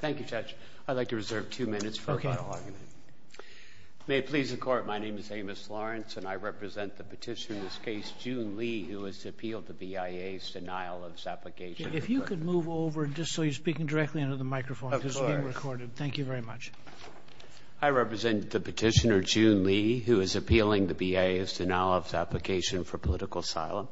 Thank you, Judge. I'd like to reserve two minutes for a final argument. May it please the Court, my name is Amos Lawrence, and I represent the petitioner in this case, June Li, who is to appeal the BIA's denial of his application for court. If you could move over, just so you're speaking directly under the microphone, because it's being recorded. Thank you very much. I represent the petitioner, June Li, who is appealing the BIA's denial of his application for political asylum.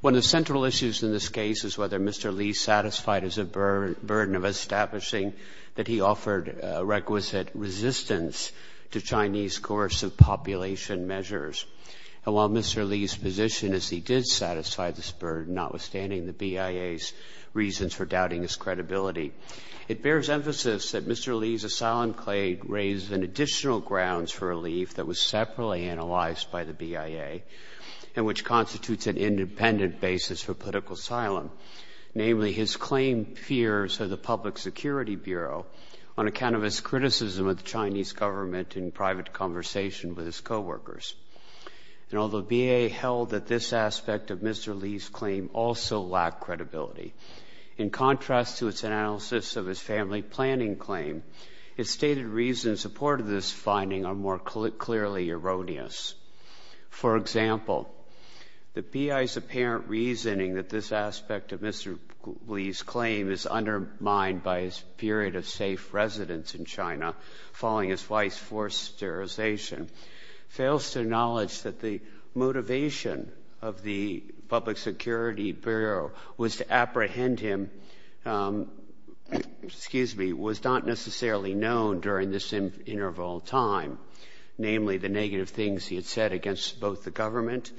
One of the central issues in this case is whether Mr. Li satisfied his burden of establishing that he offered requisite resistance to Chinese coercive population measures. And while Mr. Li's position is he did satisfy this burden, notwithstanding the BIA's reasons for doubting his credibility, it bears emphasis that Mr. Li's asylum claim raised additional grounds for relief that was separately analyzed by the BIA, and which constitutes an independent basis for political asylum. Namely, his claimed fears of the Public Security Bureau, on account of his criticism of the Chinese government in private conversation with his coworkers. And although BIA held that this aspect of Mr. Li's claim also lacked credibility, in contrast to its analysis of his family planning claim, its stated reasons in support of this finding are more clearly erroneous. For example, the BIA's apparent reasoning that this aspect of Mr. Li's claim is undermined by his period of safe residence in China, following his wife's forced sterilization, fails to acknowledge that the motivation of the Public Security Bureau was to apprehend him, excuse me, was not necessarily known during this interval of time. Namely, the negative things he had said against both the government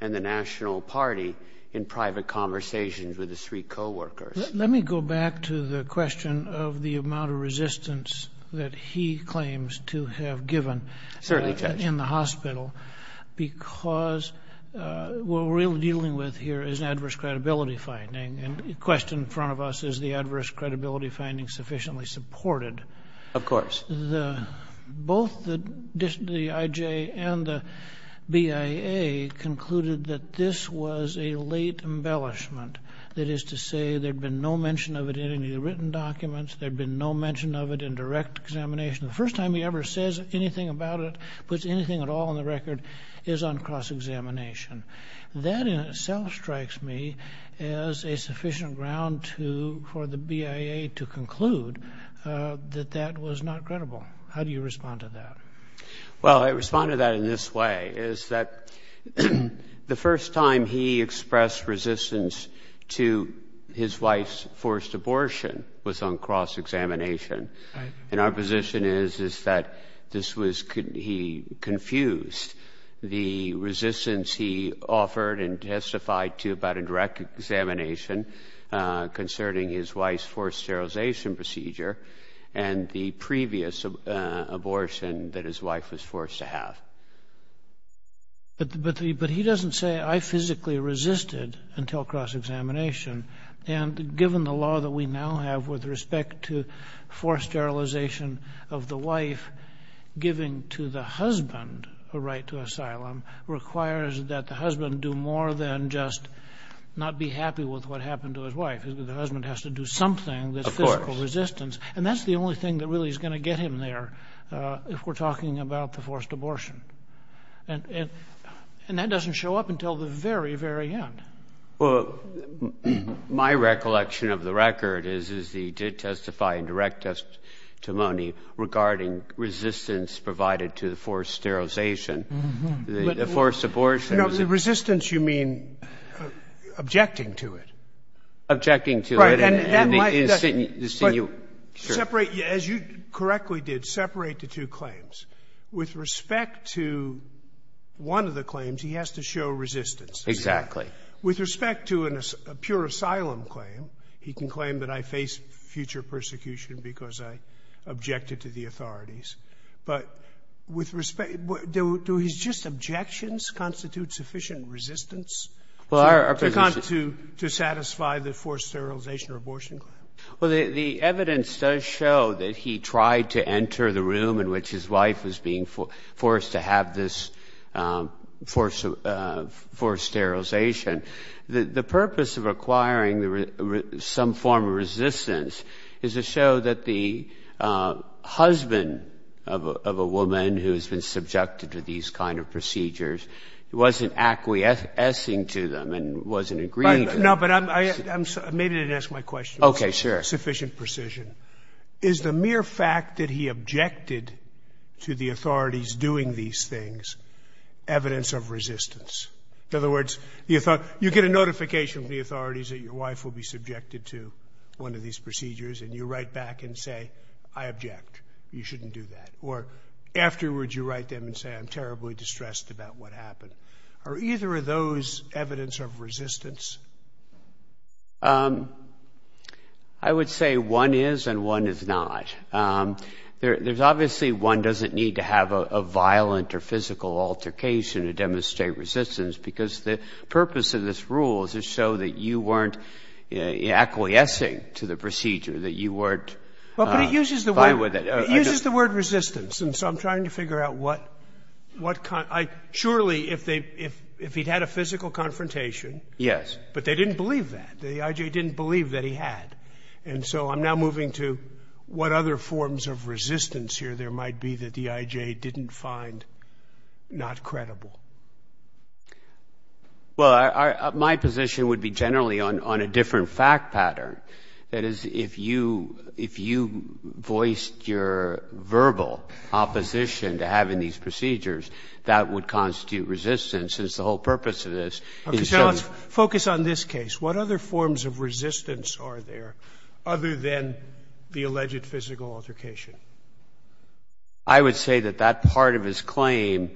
and the National Party in private conversations with his three coworkers. Let me go back to the question of the amount of resistance that he claims to have given in the hospital. Certainly, Judge. Because what we're really dealing with here is an adverse credibility finding, and the question in front of us is the adverse credibility finding sufficiently supported. Of course. Both the IJ and the BIA concluded that this was a late embellishment. That is to say, there'd been no mention of it in any of the written documents. There'd been no mention of it in direct examination. The first time he ever says anything about it, puts anything at all on the record, is on cross-examination. That in itself strikes me as a sufficient ground for the BIA to conclude that that was not credible. How do you respond to that? Well, I respond to that in this way. It's that the first time he expressed resistance to his wife's forced abortion was on cross-examination. And our position is that he confused the resistance he offered and testified to about a direct examination concerning his wife's forced sterilization procedure and the previous abortion that his wife was forced to have. But he doesn't say, I physically resisted until cross-examination. And given the law that we now have with respect to forced sterilization of the wife, giving to the husband a right to asylum requires that the husband do more than just not be happy with what happened to his wife. The husband has to do something that's physical resistance. Of course. And that's the only thing that really is going to get him there if we're talking about the forced abortion. And that doesn't show up until the very, very end. Well, my recollection of the record is that he did testify in direct testimony regarding resistance provided to the forced sterilization, the forced abortion. Resistance, you mean objecting to it? Objecting to it. Right. And my question is, as you correctly did, separate the two claims. With respect to one of the claims, he has to show resistance. Exactly. With respect to a pure asylum claim, he can claim that I face future persecution because I objected to the authorities. But with respect, do his just objections constitute sufficient resistance to satisfy the forced sterilization or abortion claim? Well, the evidence does show that he tried to enter the room in which his wife was being forced to have this forced sterilization. The purpose of requiring some form of resistance is to show that the husband of a woman who has been subjected to these kind of procedures wasn't acquiescing to them and wasn't agreeing with them. No, but I'm sorry. Maybe you didn't ask my question. Okay, sure. Sufficient precision. Is the mere fact that he objected to the authorities doing these things evidence of resistance? In other words, you get a notification from the authorities that your wife will be subjected to one of these procedures and you write back and say, I object. You shouldn't do that. Or afterwards, you write them and say, I'm terribly distressed about what happened. Are either of those evidence of resistance? I would say one is and one is not. There's obviously one doesn't need to have a violent or physical altercation to demonstrate resistance, because the purpose of this rule is to show that you weren't acquiescing to the procedure, that you weren't vying with it. Well, but it uses the word resistance. And so I'm trying to figure out what kind. Surely, if he'd had a physical confrontation. Yes. But they didn't believe that. The I.J. didn't believe that he had. And so I'm now moving to what other forms of resistance here there might be that the I.J. didn't find not credible. Well, my position would be generally on a different fact pattern. That is, if you voiced your verbal opposition to having these procedures, that would constitute resistance, since the whole purpose of this is to show. Focus on this case. What other forms of resistance are there other than the alleged physical altercation? I would say that that part of his claim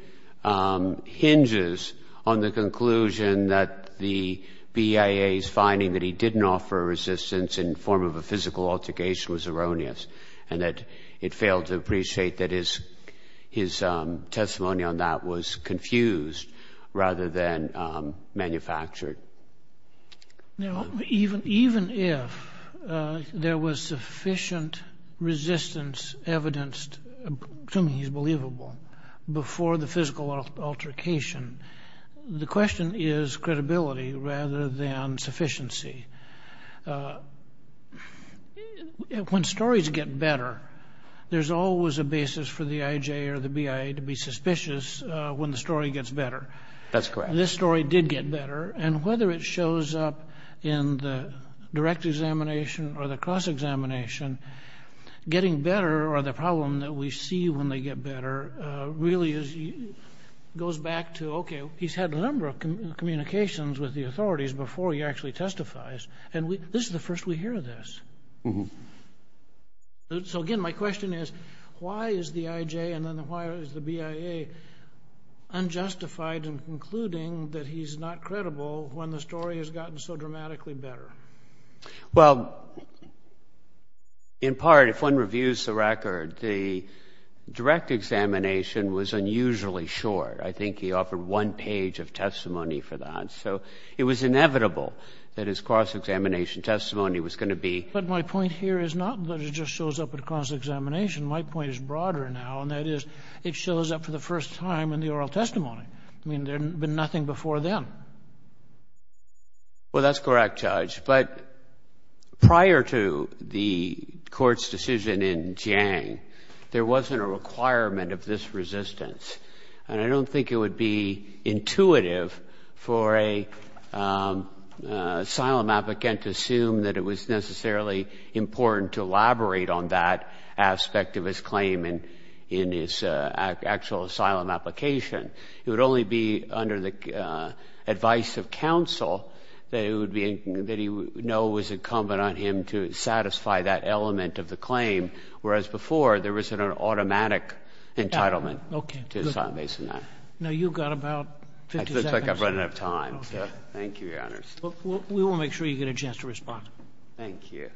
hinges on the conclusion that the BIA is finding that he didn't offer a resistance in the form of a physical altercation was erroneous, and that it failed to appreciate that his testimony on that was confused rather than manufactured. Now, even if there was sufficient resistance evidenced to me as believable before the physical altercation, the question is credibility rather than sufficiency. When stories get better, there's always a basis for the I.J. or the BIA to be suspicious when the story gets better. That's correct. This story did get better. And whether it shows up in the direct examination or the cross-examination, getting better or the problem that we see when they get better really goes back to, okay, he's had a number of communications with the authorities before he actually testifies, and this is the first we hear of this. So, again, my question is, why is the I.J. and then why is the BIA unjustified in concluding that he's not credible when the story has gotten so dramatically better? Well, in part, if one reviews the record, the direct examination was unusually short. I think he offered one page of testimony for that. So it was inevitable that his cross-examination testimony was going to be... But my point here is not that it just shows up at a cross-examination. My point is broader now, and that is it shows up for the first time in the oral testimony. I mean, there had been nothing before then. Well, that's correct, Judge. But prior to the court's decision in Jiang, there wasn't a requirement of this resistance, and I don't think it would be intuitive for an asylum applicant to assume that it was necessarily important to elaborate on that aspect of his claim in his actual asylum application. It would only be under the advice of counsel that he would know was incumbent on him to satisfy that element of the claim, whereas before, there was an automatic entitlement to asylum based on that. Now, you've got about 50 seconds. It looks like I've run out of time, so thank you, Your Honors. We will make sure you get a chance to respond. Thank you. Thank you.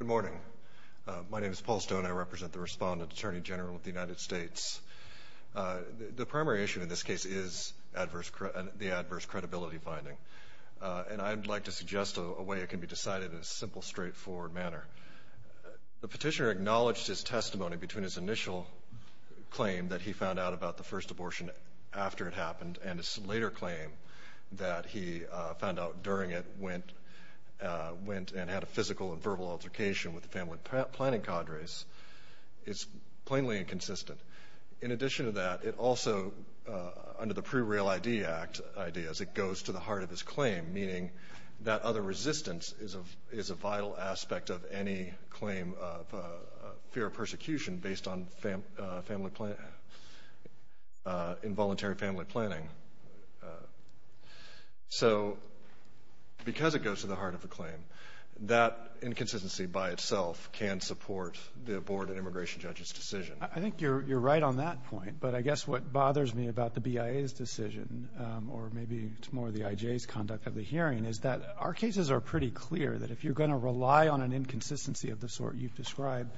Good morning. My name is Paul Stone. I represent the Respondent Attorney General of the United States. The primary issue in this case is the adverse credibility finding, and I'd like to suggest a way it can be decided in a simple, straightforward manner. The petitioner acknowledged his testimony between his initial claim that he found out about the first abortion after it happened and his later claim that he found out during it went and had a physical and verbal altercation with the family planning cadres. It's plainly inconsistent. In addition to that, it also, under the Pre-Real ID Act ideas, it goes to the heart of his claim, meaning that other resistance is a vital aspect of any claim of fear of persecution based on involuntary family planning. So because it goes to the heart of the claim, that inconsistency by itself can support the Board of Immigration Judges' decision. I think you're right on that point, but I guess what bothers me about the BIA's decision, or maybe it's more the IJ's conduct of the hearing, is that our cases are pretty clear that if you're going to rely on an inconsistency of the sort you've described,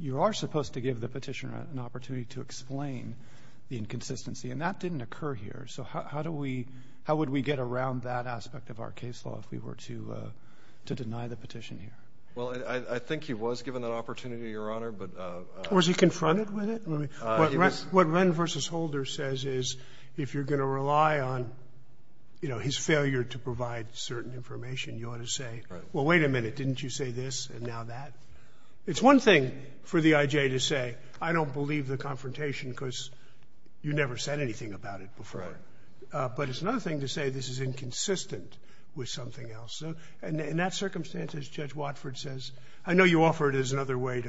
you are supposed to give the petitioner an opportunity to explain the inconsistency, and that didn't occur here. So how do we — how would we get around that aspect of our case law if we were to deny the petition here? Well, I think he was given an opportunity, Your Honor, but — Was he confronted with it? What Wren v. Holder says is if you're going to rely on, you know, his failure to provide certain information, you ought to say, well, wait a minute, didn't you say this and now that? It's one thing for the IJ to say, I don't believe the confrontation because you never said anything about it before. But it's another thing to say this is inconsistent with something else. And in that circumstance, as Judge Watford says, I know you offer it as another way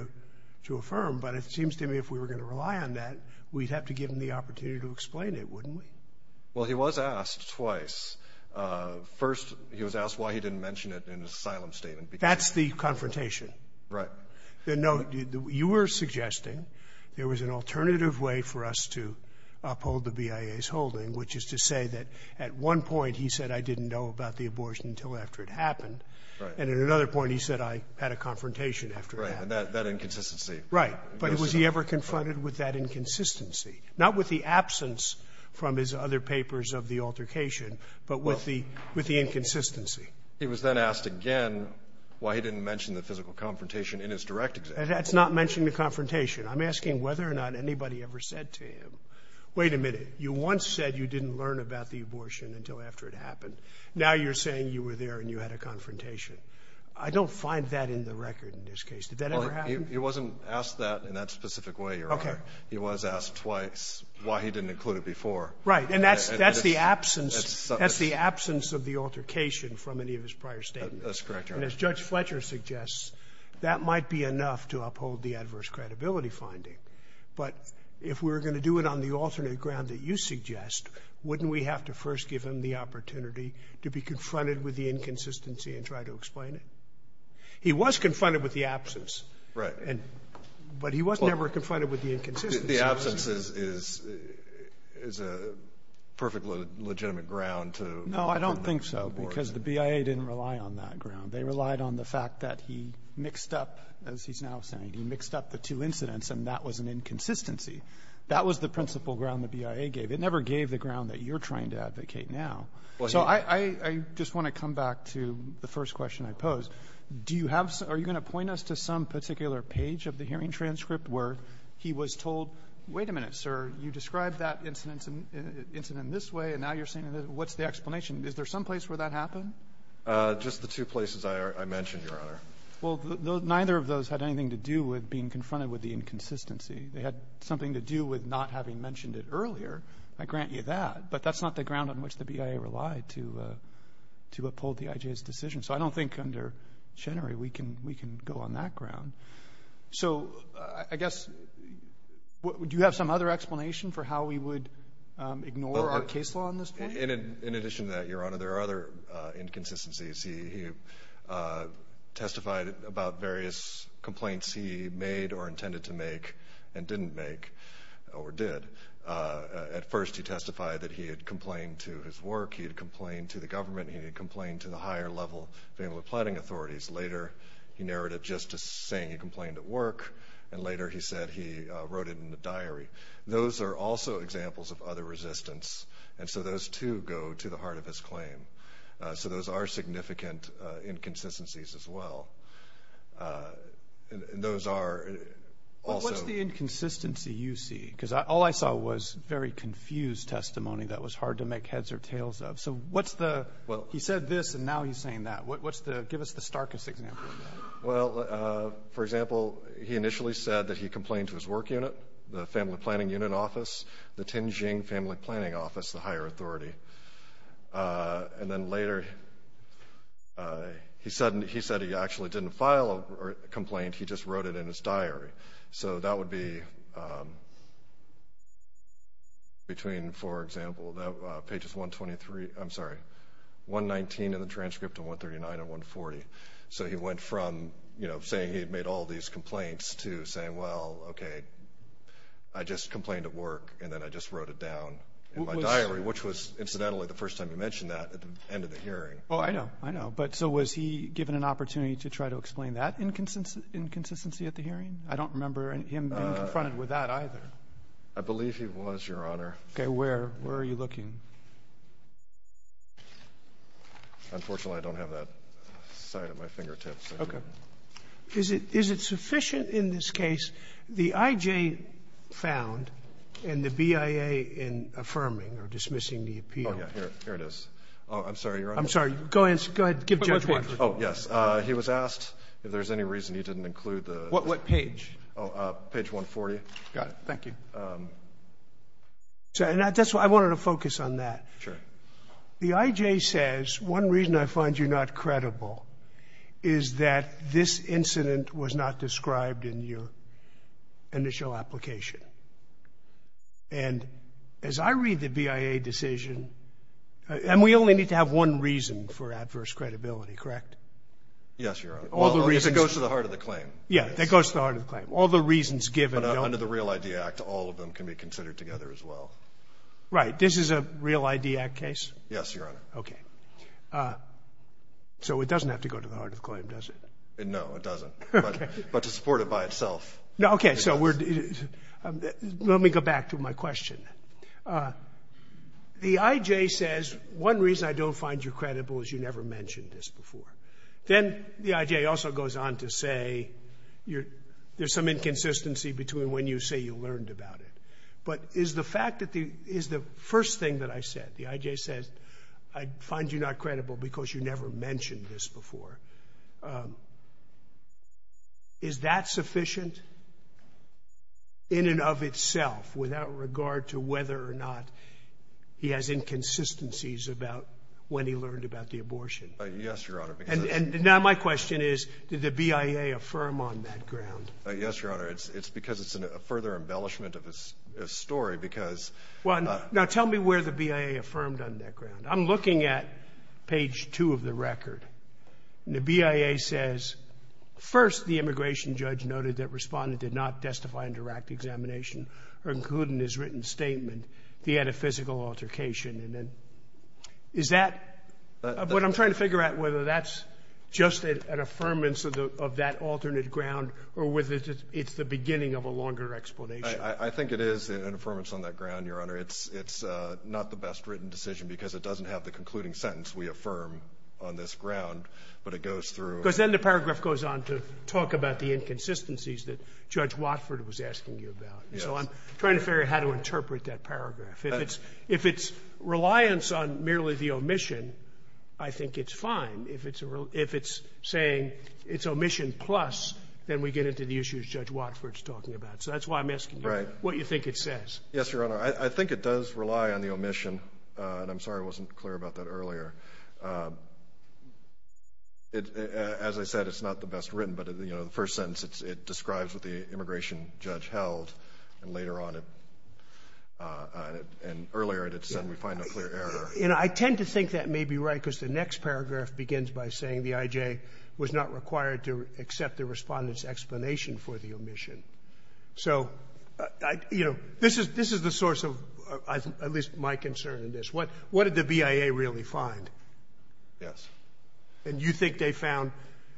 to affirm, but it seems to me if we were going to rely on that, we'd have to give him the opportunity to explain it, wouldn't we? Well, he was asked twice. First, he was asked why he didn't mention it in his asylum statement. That's the confrontation. Right. No, you were suggesting there was an alternative way for us to uphold the BIA's holding, which is to say that at one point he said, I didn't know about the abortion until after it happened, and at another point he said, I had a confrontation after it happened. Right, and that inconsistency. Right. But was he ever confronted with that inconsistency? Not with the absence from his other papers of the altercation, but with the inconsistency. He was then asked again why he didn't mention the physical confrontation in his direct example. That's not mentioning the confrontation. I'm asking whether or not anybody ever said to him, wait a minute, you once said you didn't learn about the abortion until after it happened. Now you're saying you were there and you had a confrontation. I don't find that in the record in this case. Did that ever happen? He wasn't asked that in that specific way, Your Honor. Okay. He was asked twice why he didn't include it before. Right, and that's the absence of the altercation from any of his prior statements. That's correct, Your Honor. And as Judge Fletcher suggests, that might be enough to uphold the adverse credibility finding. But if we were going to do it on the alternate ground that you suggest, wouldn't we have to first give him the opportunity to be confronted with the inconsistency and try to explain it? He was confronted with the absence. Right. But he was never confronted with the inconsistency. The absence is a perfectly legitimate ground. No, I don't think so because the BIA didn't rely on that ground. They relied on the fact that he mixed up, as he's now saying, he mixed up the two incidents and that was an inconsistency. That was the principal ground the BIA gave. It never gave the ground that you're trying to advocate now. So I just want to come back to the first question I posed. Are you going to point us to some particular page of the hearing transcript where he was told, wait a minute, sir, you described that incident this way and now you're saying what's the explanation? Is there some place where that happened? Just the two places I mentioned, Your Honor. Well, neither of those had anything to do with being confronted with the inconsistency. They had something to do with not having mentioned it earlier. I grant you that. But that's not the ground on which the BIA relied to uphold the IJ's decision. So I don't think under Chenery we can go on that ground. So I guess do you have some other explanation for how we would ignore our case law on this point? In addition to that, Your Honor, there are other inconsistencies. He testified about various complaints he made or intended to make and didn't make or did. At first he testified that he had complained to his work. He had complained to the government. He had complained to the higher level family planning authorities. Later he narrated just saying he complained at work. And later he said he wrote it in the diary. Those are also examples of other resistance. And so those, too, go to the heart of his claim. So those are significant inconsistencies as well. And those are also. What's the inconsistency you see? Because all I saw was very confused testimony that was hard to make heads or tails of. So what's the he said this and now he's saying that. Give us the starkest example of that. Well, for example, he initially said that he complained to his work unit, the family planning unit office, the Tianjin family planning office, the higher authority. And then later he said he actually didn't file a complaint. He just wrote it in his diary. So that would be between, for example, pages 123. I'm sorry, 119 in the transcript and 139 and 140. So he went from, you know, saying he had made all these complaints to saying, well, okay, I just complained at work and then I just wrote it down in my diary, which was incidentally the first time you mentioned that at the end of the hearing. Oh, I know. I know. But so was he given an opportunity to try to explain that inconsistency at the hearing? I don't remember him being confronted with that either. I believe he was, Your Honor. Okay. Where are you looking? Unfortunately, I don't have that sight at my fingertips. Okay. Is it sufficient in this case the IJ found and the BIA in affirming or dismissing Oh, yeah. Here it is. I'm sorry, Your Honor. I'm sorry. Go ahead. Give Judge Watford. Oh, yes. He was asked if there's any reason he didn't include the What page? Oh, page 140. Got it. Thank you. I wanted to focus on that. Sure. The IJ says one reason I find you not credible is that this incident was not described in your initial application. And as I read the BIA decision, and we only need to have one reason for adverse credibility, correct? Yes, Your Honor. All the reasons It goes to the heart of the claim. Yeah, that goes to the heart of the claim. All the reasons given Under the Real ID Act, all of them can be considered together as well. Right. This is a Real ID Act case? Yes, Your Honor. Okay. So it doesn't have to go to the heart of the claim, does it? No, it doesn't. Okay. But to support it by itself No, okay. So we're Let me go back to my question. The IJ says one reason I don't find you credible is you never mentioned this before. Then the IJ also goes on to say there's some inconsistency between when you say you learned about it. But is the fact that the Is the first thing that I said, the IJ says, I find you not credible because you never mentioned this before. Is that sufficient in and of itself without regard to whether or not he has inconsistencies about when he learned about the abortion? Yes, Your Honor. And now my question is, did the BIA affirm on that ground? Yes, Your Honor. It's because it's a further embellishment of his story because Well, now tell me where the BIA affirmed on that ground. I'm looking at page two of the record. And the BIA says, first, the immigration judge noted that Respondent did not testify under act examination or include in his written statement that he had a physical altercation. And then is that what I'm trying to figure out, whether that's just an affirmance of that alternate ground or whether it's the beginning of a longer explanation? I think it is an affirmance on that ground, Your Honor. It's not the best written decision because it doesn't have the concluding sentence we affirm on this ground, but it goes through Because then the paragraph goes on to talk about the inconsistencies that Judge Watford was asking you about. So I'm trying to figure out how to interpret that paragraph. If it's reliance on merely the omission, I think it's fine. If it's saying it's omission plus, then we get into the issues Judge Watford is talking about. So that's why I'm asking you what you think it says. Yes, Your Honor. I think it does rely on the omission, and I'm sorry I wasn't clear about that earlier. As I said, it's not the best written, but, you know, the first sentence, it describes what the immigration judge held, and later on, and earlier, it said we find a clear error. And I tend to think that may be right because the next paragraph begins by saying the I.J. was not required to accept the Respondent's explanation for the omission. So, you know, this is the source of at least my concern in this. What did the BIA really find? Yes. And you think they found,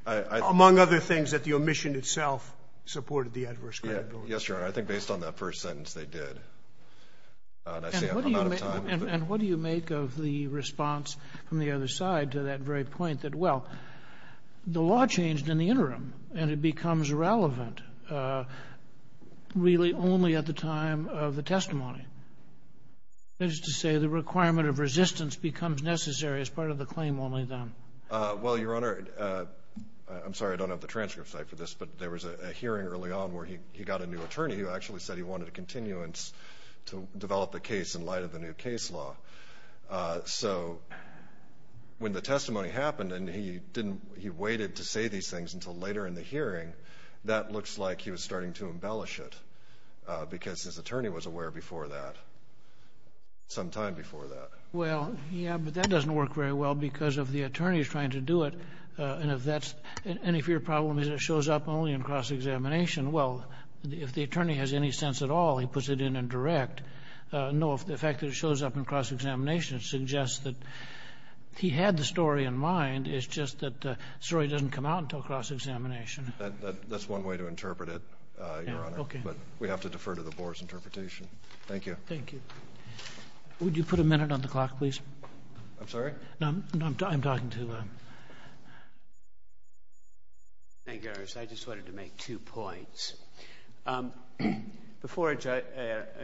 among other things, that the omission itself supported the adverse credibility? Yes, Your Honor. I think based on that first sentence, they did. And I say I'm out of time. And what do you make of the response from the other side to that very point that, well, the law changed in the interim, and it becomes relevant really only at the time of the testimony. That is to say the requirement of resistance becomes necessary as part of the claim only then. Well, Your Honor, I'm sorry I don't have the transcripts for this, but there was a hearing early on where he got a new attorney who actually said he wanted a continuance to develop the case in light of the new case law. So when the testimony happened and he waited to say these things until later in the hearing, that looks like he was starting to embellish it because his attorney was aware before that, some time before that. Well, yeah, but that doesn't work very well because if the attorney is trying to do it and if your problem is it shows up only in cross-examination, well, if the attorney has any sense at all, he puts it in in direct. No, if the fact that it shows up in cross-examination suggests that he had the story in mind, it's just that the story doesn't come out until cross-examination. That's one way to interpret it, Your Honor. Yeah, okay. But we have to defer to the board's interpretation. Thank you. Thank you. Would you put a minute on the clock, please? I'm sorry? No, I'm talking to... Thank you, Your Honor. I just wanted to make two points. Before an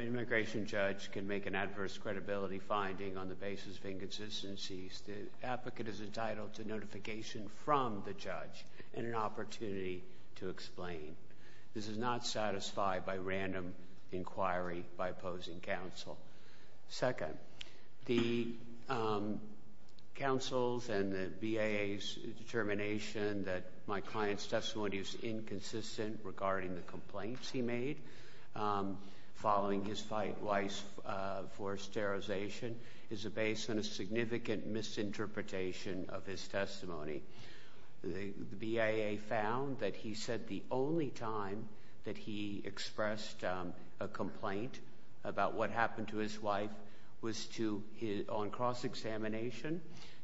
immigration judge can make an adverse credibility finding on the basis of inconsistencies, the applicant is entitled to notification from the judge and an opportunity to explain. This is not satisfied by random inquiry by opposing counsel. Second, the counsel's and the BIA's determination that my client's testimony is inconsistent regarding the complaints he made following his fight for sterilization is based on a significant misinterpretation of his testimony. The BIA found that he said the only time that he expressed a complaint about what happened to his wife was on cross-examination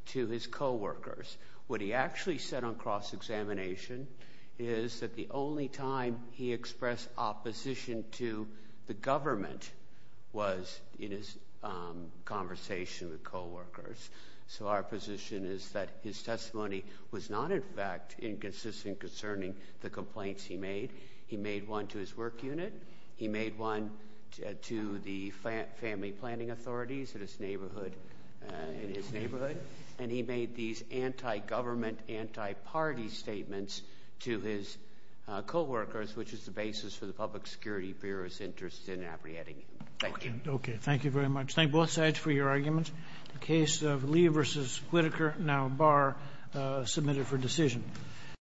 to his coworkers. What he actually said on cross-examination is that the only time he expressed opposition to the government was in his conversation with coworkers. So our position is that his testimony was not, in fact, inconsistent concerning the complaints he made. He made one to his work unit. He made one to the family planning authorities in his neighborhood. And he made these anti-government, anti-party statements to his coworkers, which is the basis for the Public Security Bureau's interest in apprehending him. Thank you. Okay. Thank you very much. Thank both sides for your arguments. The case of Lee v. Whitaker, now Barr, submitted for decision.